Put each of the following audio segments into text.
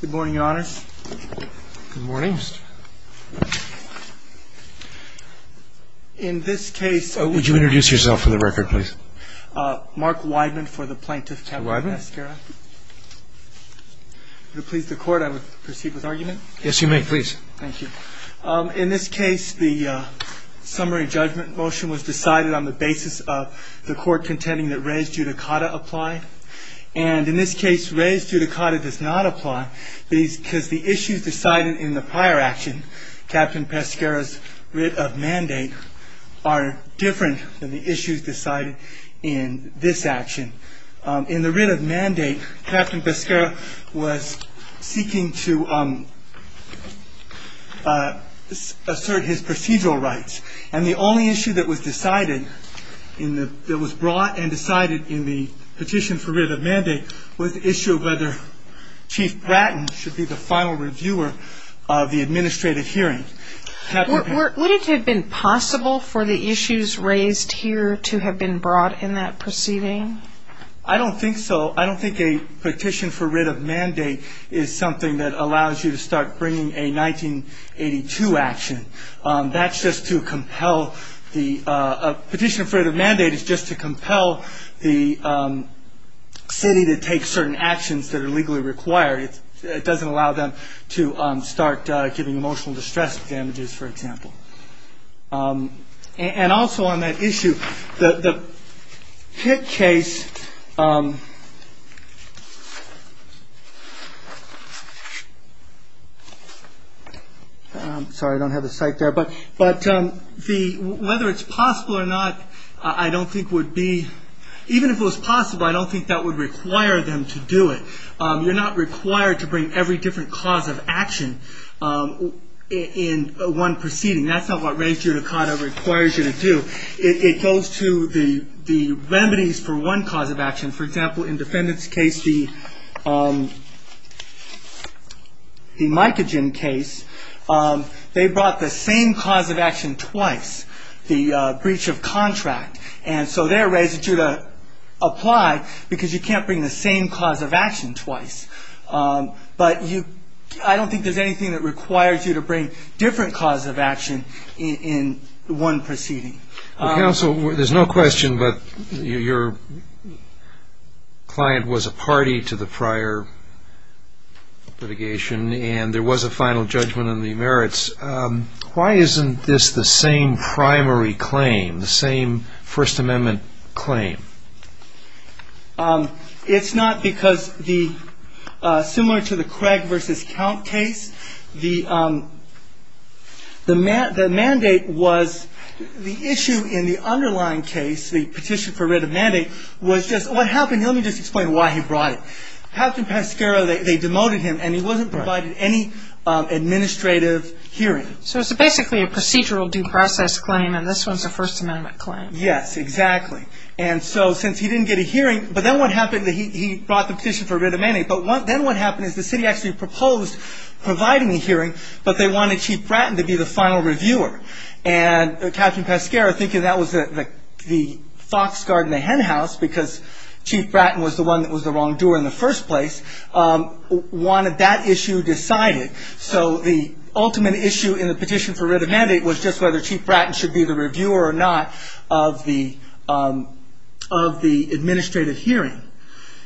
Good morning, Your Honors. Good morning. In this case... Would you introduce yourself for the record, please? Mark Wideman for the Plaintiff, Captain Pesqueira. Mark Wideman. If it would please the Court, I would proceed with argument. Yes, you may. Please. Thank you. In this case, the summary judgment motion was decided on the basis of the Court contending that res judicata apply. And in this case, res judicata does not apply because the issues decided in the prior action, Captain Pesqueira's writ of mandate, are different than the issues decided in this action. In the writ of mandate, Captain Pesqueira was seeking to assert his procedural rights. And the only issue that was decided, that was brought and decided in the petition for writ of mandate, was the issue of whether Chief Bratton should be the final reviewer of the administrative hearing. Would it have been possible for the issues raised here to have been brought in that proceeding? I don't think so. I don't think a petition for writ of mandate is something that allows you to start bringing a 1982 action. That's just to compel the petition for the mandate is just to compel the city to take certain actions that are legally required. It doesn't allow them to start giving emotional distress damages, for example. And also on that issue, the Pitt case. Sorry, I don't have the site there. But whether it's possible or not, I don't think would be. Even if it was possible, I don't think that would require them to do it. You're not required to bring every different cause of action in one proceeding. That's not what res judicata requires you to do. It goes to the remedies for one cause of action. For example, in defendant's case, the Mycogen case, they brought the same cause of action twice, the breach of contract. And so they're res judicata apply because you can't bring the same cause of action twice. But I don't think there's anything that requires you to bring different cause of action in one proceeding. Counsel, there's no question, but your client was a party to the prior litigation, and there was a final judgment on the merits. Why isn't this the same primary claim, the same First Amendment claim? It's not, because similar to the Craig v. Count case, the issue in the underlying case, the petition for writ of mandate, was just what happened. Let me just explain why he brought it. Captain Pascara, they demoted him, and he wasn't provided any administrative hearing. So it's basically a procedural due process claim, and this one's a First Amendment claim. Yes, exactly. And so since he didn't get a hearing, but then what happened, he brought the petition for writ of mandate. But then what happened is the city actually proposed providing the hearing, but they wanted Chief Bratton to be the final reviewer. And Captain Pascara, thinking that was the fox guard in the hen house, because Chief Bratton was the one that was the wrongdoer in the first place, wanted that issue decided. So the ultimate issue in the petition for writ of mandate was just whether Chief Bratton should be the reviewer or not of the administrative hearing.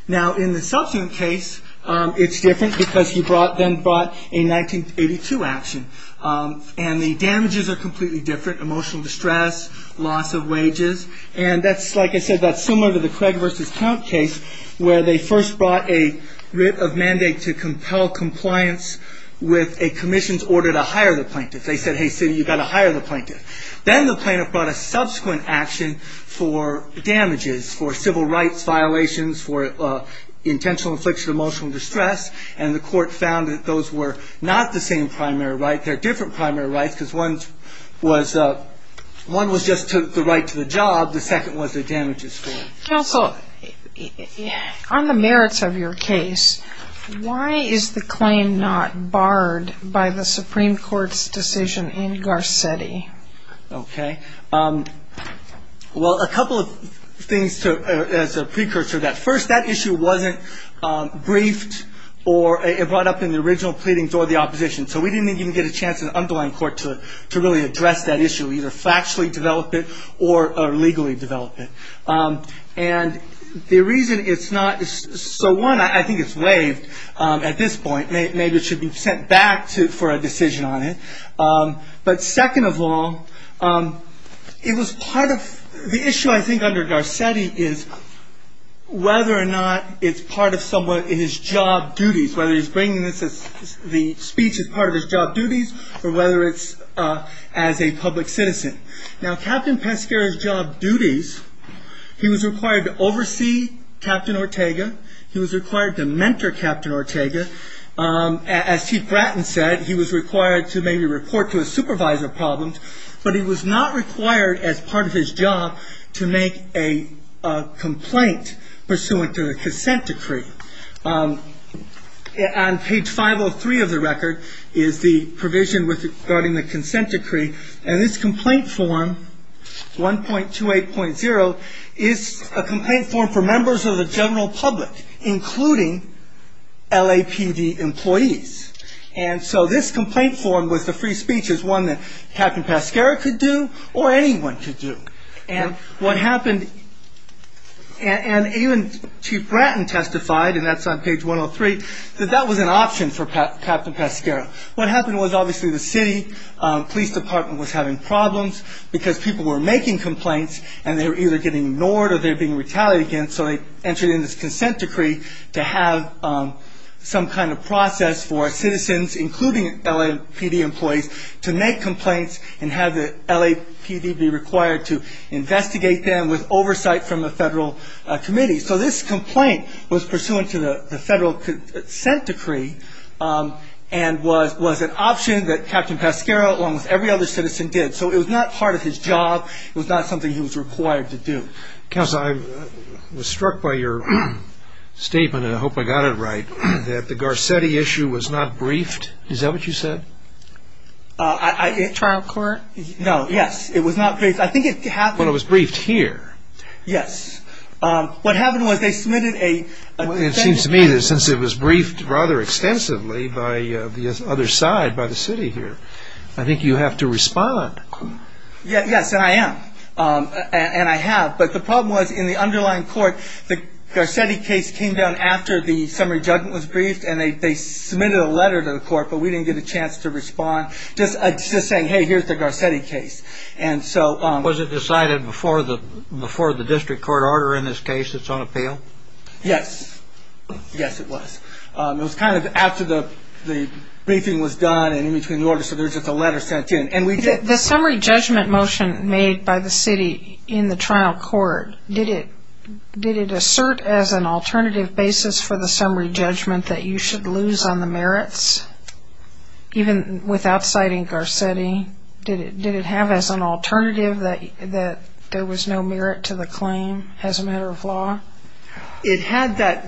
Now, in the subsequent case, it's different, because he then brought a 1982 action. And the damages are completely different, emotional distress, loss of wages. And that's, like I said, that's similar to the Craig v. Count case, where they first brought a writ of mandate to compel compliance with a commission's order to hire the plaintiff. They said, hey, city, you've got to hire the plaintiff. Then the plaintiff brought a subsequent action for damages, for civil rights violations, for intentional infliction of emotional distress. And the court found that those were not the same primary right. They're different primary rights, because one was just took the right to the job. The second was the damages for it. Counsel, on the merits of your case, why is the claim not barred by the Supreme Court's decision in Garcetti? OK. Well, a couple of things as a precursor to that. First, that issue wasn't briefed or brought up in the original pleadings or the opposition. So we didn't even get a chance in the underlying court to really address that issue, either factually develop it or legally develop it. And the reason it's not – so one, I think it's waived at this point. Maybe it should be sent back for a decision on it. But second of all, it was part of – the issue, I think, under Garcetti is whether or not it's part of someone in his job duties, whether he's bringing the speech as part of his job duties or whether it's as a public citizen. Now, Captain Pescara's job duties, he was required to oversee Captain Ortega. He was required to mentor Captain Ortega. As Chief Bratton said, he was required to maybe report to a supervisor problems. But he was not required as part of his job to make a complaint pursuant to a consent decree. On page 503 of the record is the provision regarding the consent decree. And this complaint form, 1.28.0, is a complaint form for members of the general public, including LAPD employees. And so this complaint form with the free speech is one that Captain Pescara could do or anyone could do. And what happened – and even Chief Bratton testified, and that's on page 103, that that was an option for Captain Pescara. What happened was obviously the city police department was having problems because people were making complaints and they were either getting ignored or they were being retaliated against. So they entered in this consent decree to have some kind of process for citizens, including LAPD employees, to make complaints and have the LAPD be required to investigate them with oversight from the federal committee. So this complaint was pursuant to the federal consent decree and was an option that Captain Pescara, along with every other citizen, did. So it was not part of his job. It was not something he was required to do. Counsel, I was struck by your statement, and I hope I got it right, that the Garcetti issue was not briefed. Is that what you said? At trial court? No, yes, it was not briefed. I think it happened – But it was briefed here. Yes. What happened was they submitted a – It seems to me that since it was briefed rather extensively by the other side, by the city here, I think you have to respond. Yes, and I am. And I have. But the problem was in the underlying court, the Garcetti case came down after the summary judgment was briefed, and they submitted a letter to the court, but we didn't get a chance to respond. Just saying, hey, here's the Garcetti case. Was it decided before the district court order in this case that's on appeal? Yes. Yes, it was. It was kind of after the briefing was done and in between the order, so there was just a letter sent in. The summary judgment motion made by the city in the trial court, did it assert as an alternative basis for the summary judgment that you should lose on the merits, even without citing Garcetti? Did it have as an alternative that there was no merit to the claim as a matter of law? It had that,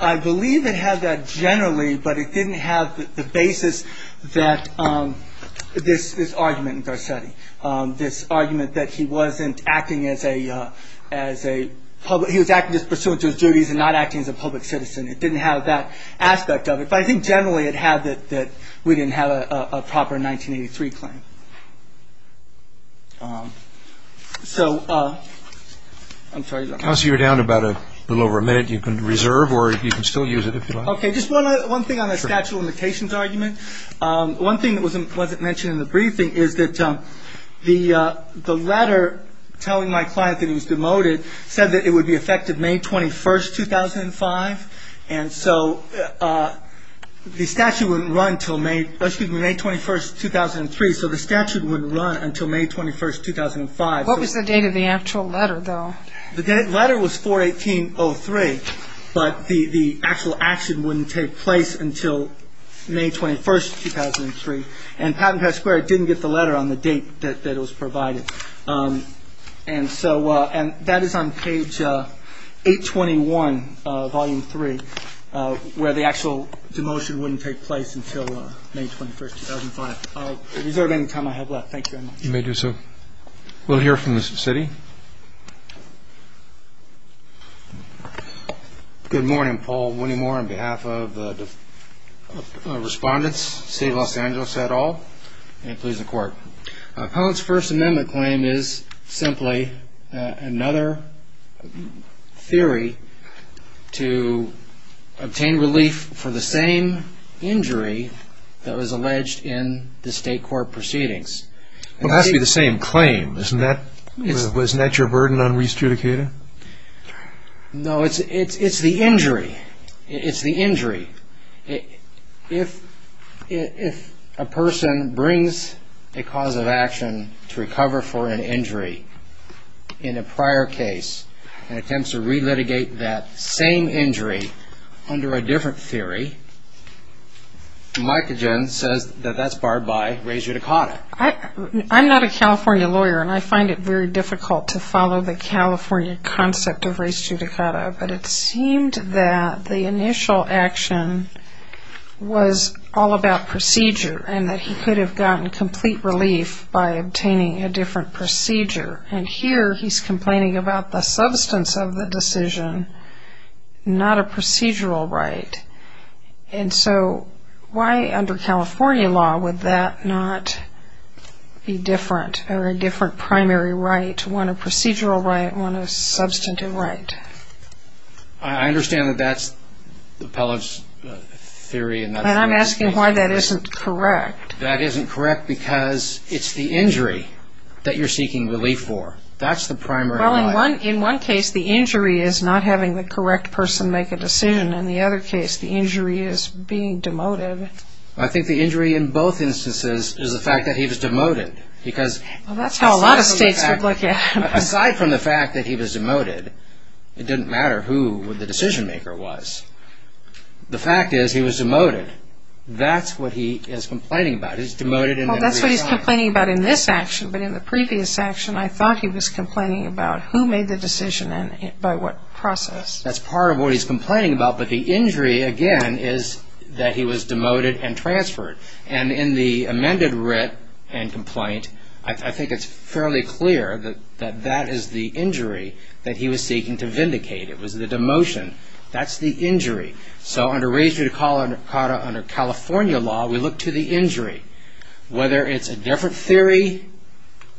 I believe it had that generally, but it didn't have the basis that this argument in Garcetti, this argument that he wasn't acting as a public, he was acting just pursuant to his duties and not acting as a public citizen. It didn't have that aspect of it. But I think generally it had that we didn't have a proper 1983 claim. So I'm sorry. Counsel, you're down to about a little over a minute. You can reserve or you can still use it if you like. Okay. Just one thing on the statute of limitations argument. One thing that wasn't mentioned in the briefing is that the letter telling my client that he was demoted said that it would be effective May 21st, 2005. And so the statute wouldn't run until May 21st, 2003. So the statute wouldn't run until May 21st, 2005. What was the date of the actual letter, though? The letter was 4-18-03, but the actual action wouldn't take place until May 21st, 2003. And Patent Pass Square didn't get the letter on the date that it was provided. And so that is on page 821, Volume 3, where the actual demotion wouldn't take place until May 21st, 2005. I'll reserve any time I have left. Thank you very much. You may do so. We'll hear from the city. Good morning, Paul. Winnie Moore on behalf of the respondents, City of Los Angeles et al. Any pleas in court? No. Appellant's First Amendment claim is simply another theory to obtain relief for the same injury that was alleged in the state court proceedings. Well, it has to be the same claim. Isn't that your burden on re-adjudicating? No, it's the injury. It's the injury. If a person brings a cause of action to recover for an injury in a prior case and attempts to re-litigate that same injury under a different theory, Micogen says that that's barred by res judicata. I'm not a California lawyer, and I find it very difficult to follow the California concept of res judicata, but it seemed that the initial action was all about procedure and that he could have gotten complete relief by obtaining a different procedure. And here he's complaining about the substance of the decision, not a procedural right. And so why under California law would that not be different or a different primary right, one a procedural right, one a substantive right? I understand that that's the appellant's theory. And I'm asking why that isn't correct. That isn't correct because it's the injury that you're seeking relief for. That's the primary right. Well, in one case, the injury is not having the correct person make a decision. In the other case, the injury is being demoted. I think the injury in both instances is the fact that he was demoted because Well, that's how a lot of states would look at it. Aside from the fact that he was demoted, it didn't matter who the decision-maker was. The fact is he was demoted. That's what he is complaining about. He's demoted and then reassigned. Well, that's what he's complaining about in this action, but in the previous action I thought he was complaining about who made the decision and by what process. That's part of what he's complaining about, but the injury, again, is that he was demoted and transferred. And in the amended writ and complaint, I think it's fairly clear that that is the injury that he was seeking to vindicate. It was the demotion. That's the injury. So, under Raise Free to Call under California law, we look to the injury. Whether it's a different theory,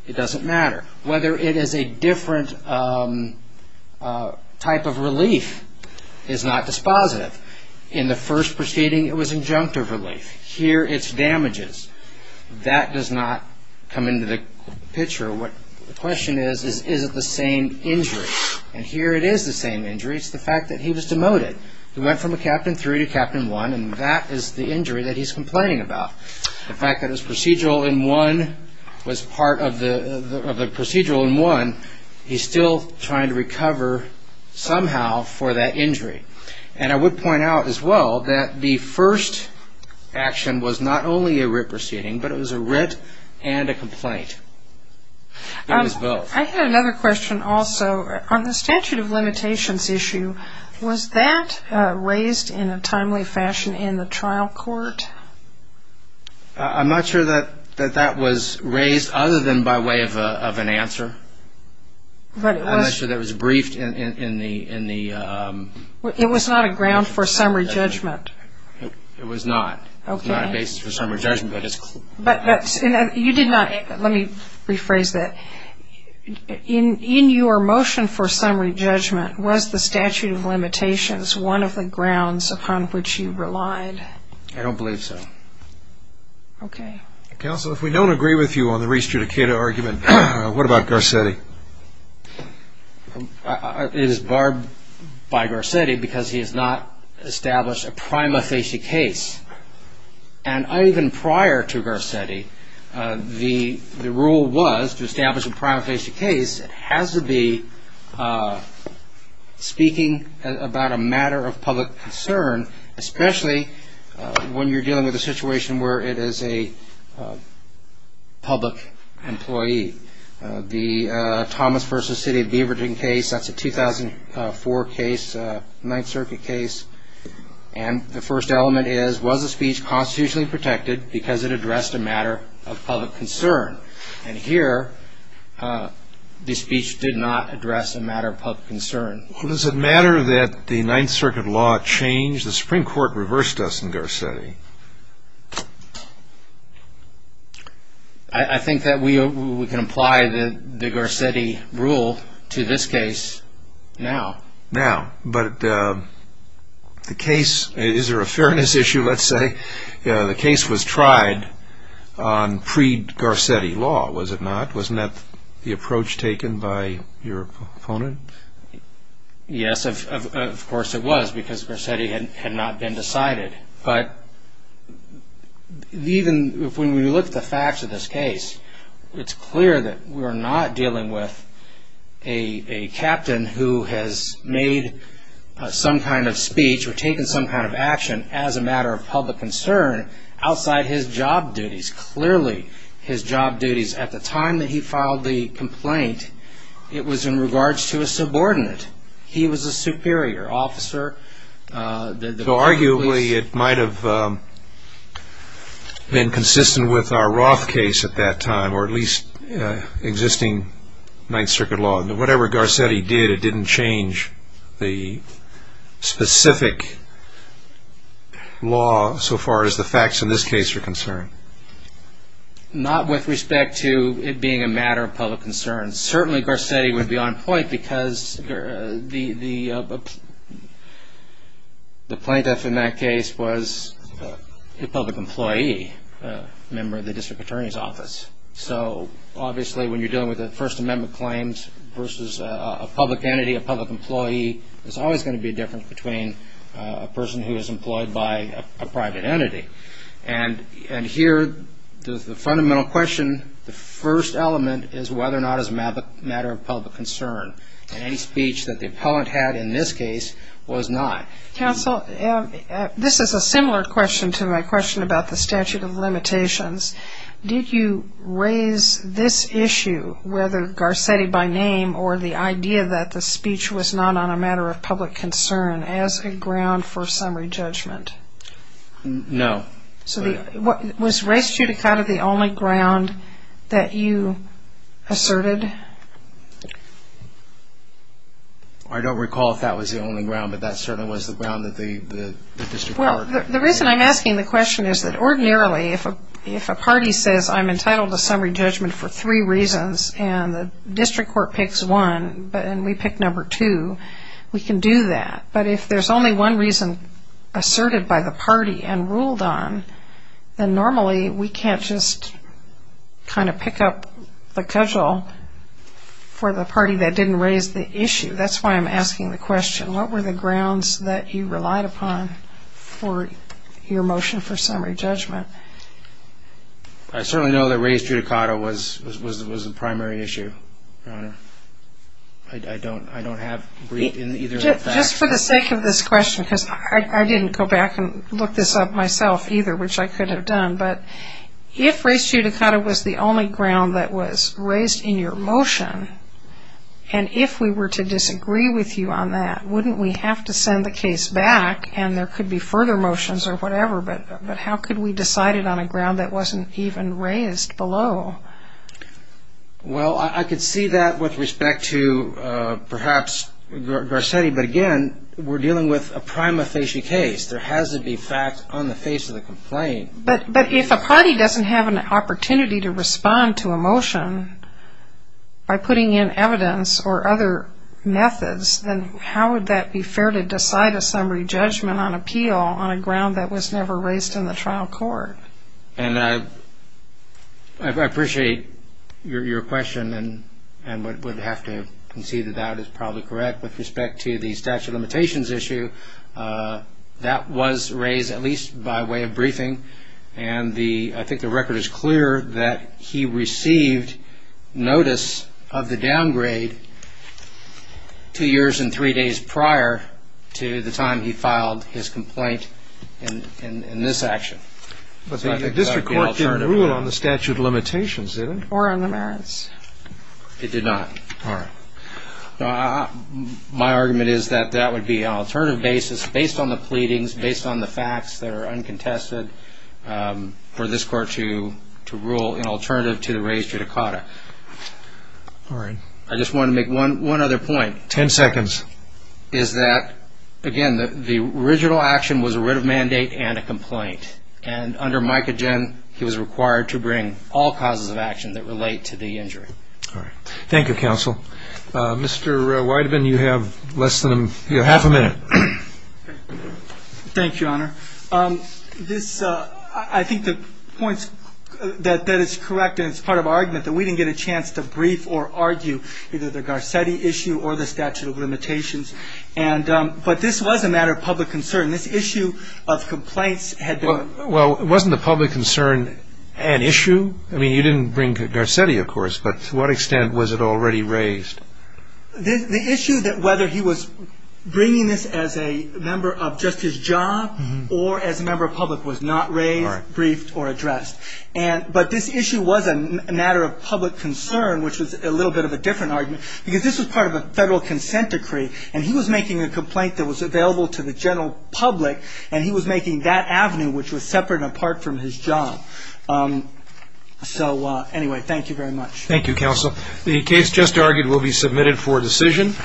it doesn't matter. Whether it is a different type of relief is not dispositive. In the first proceeding, it was injunctive relief. Here, it's damages. That does not come into the picture. The question is, is it the same injury? And here it is the same injury. It's the fact that he was demoted. He went from a Captain 3 to Captain 1, and that is the injury that he's complaining about. The fact that his procedural in 1 was part of the procedural in 1, he's still trying to recover somehow for that injury. And I would point out as well that the first action was not only a writ proceeding, but it was a writ and a complaint. It was both. I had another question also. On the statute of limitations issue, was that raised in a timely fashion in the trial court? I'm not sure that that was raised other than by way of an answer. I'm not sure that was briefed in the ‑‑ It was not a ground for summary judgment. It was not. Okay. It was not a basis for summary judgment. You did not ‑‑ let me rephrase that. In your motion for summary judgment, was the statute of limitations one of the grounds upon which you relied? I don't believe so. Okay. Counsel, if we don't agree with you on the re-adjudicator argument, what about Garcetti? It is barred by Garcetti because he has not established a prima facie case. And even prior to Garcetti, the rule was to establish a prima facie case, it has to be speaking about a matter of public concern, especially when you're dealing with a situation where it is a public employee. The Thomas v. City of Beaverton case, that's a 2004 case, Ninth Circuit case, and the first element is, was the speech constitutionally protected because it addressed a matter of public concern? And here, the speech did not address a matter of public concern. Well, does it matter that the Ninth Circuit law changed? The Supreme Court reversed us in Garcetti. I think that we can apply the Garcetti rule to this case now. Now. But the case ‑‑ is there a fairness issue, let's say? The case was tried on pre-Garcetti law, was it not? Wasn't that the approach taken by your opponent? Yes, of course it was, because Garcetti had not been decided. But even when we look at the facts of this case, it's clear that we're not dealing with a captain who has made some kind of speech or taken some kind of action as a matter of public concern outside his job duties. Clearly, his job duties. At the time that he filed the complaint, it was in regards to a subordinate. He was a superior officer. So arguably, it might have been consistent with our Roth case at that time, or at least existing Ninth Circuit law. So whatever Garcetti did, it didn't change the specific law so far as the facts in this case are concerned? Not with respect to it being a matter of public concern. Certainly, Garcetti would be on point, because the plaintiff in that case was a public employee, a member of the district attorney's office. So obviously, when you're dealing with First Amendment claims versus a public entity, a public employee, there's always going to be a difference between a person who is employed by a private entity. And here, the fundamental question, the first element, is whether or not it's a matter of public concern. And any speech that the appellant had in this case was not. Counsel, this is a similar question to my question about the statute of limitations. Did you raise this issue, whether Garcetti by name or the idea that the speech was not on a matter of public concern, as a ground for summary judgment? No. Was res judicata the only ground that you asserted? I don't recall if that was the only ground, but that certainly was the ground that the district court... The reason I'm asking the question is that ordinarily, if a party says I'm entitled to summary judgment for three reasons and the district court picks one and we pick number two, we can do that. But if there's only one reason asserted by the party and ruled on, then normally we can't just kind of pick up the cudgel for the party that didn't raise the issue. That's why I'm asking the question. What were the grounds that you relied upon for your motion for summary judgment? I certainly know that res judicata was the primary issue, Your Honor. I don't have either of the facts. Just for the sake of this question, because I didn't go back and look this up myself either, which I could have done, but if res judicata was the only ground that was raised in your motion and if we were to disagree with you on that, wouldn't we have to send the case back and there could be further motions or whatever, but how could we decide it on a ground that wasn't even raised below? Well, I could see that with respect to perhaps Garcetti, but again, we're dealing with a prima facie case. There has to be facts on the face of the complaint. But if a party doesn't have an opportunity to respond to a motion by putting in evidence or other methods, then how would that be fair to decide a summary judgment on appeal on a ground that was never raised in the trial court? And I appreciate your question and would have to concede that that is probably correct. With respect to the statute of limitations issue, that was raised at least by way of briefing and I think the record is clear that he received notice of the downgrade two years and three days prior to the time he filed his complaint in this action. But the district court didn't rule on the statute of limitations, did it? Or on the merits? It did not. All right. My argument is that that would be an alternative basis based on the pleadings, based on the facts that are uncontested for this court to rule in alternative to the raised judicata. All right. I just want to make one other point. Ten seconds. Is that, again, the original action was a writ of mandate and a complaint. And under Micogen, he was required to bring all causes of action that relate to the injury. All right. Thank you, counsel. Mr. Weideman, you have less than half a minute. Thank you, Your Honor. I think the point that is correct and it's part of our argument that we didn't get a chance to brief or argue either the Garcetti issue or the statute of limitations. But this was a matter of public concern. This issue of complaints had been. Well, wasn't the public concern an issue? I mean, you didn't bring Garcetti, of course, but to what extent was it already raised? The issue that whether he was bringing this as a member of just his job or as a member of public was not raised, briefed, or addressed. But this issue was a matter of public concern, which was a little bit of a different argument, because this was part of a federal consent decree, and he was making a complaint that was available to the general public, and he was making that avenue, which was separate and apart from his job. So, anyway, thank you very much. Thank you, counsel. The case just argued will be submitted for decision.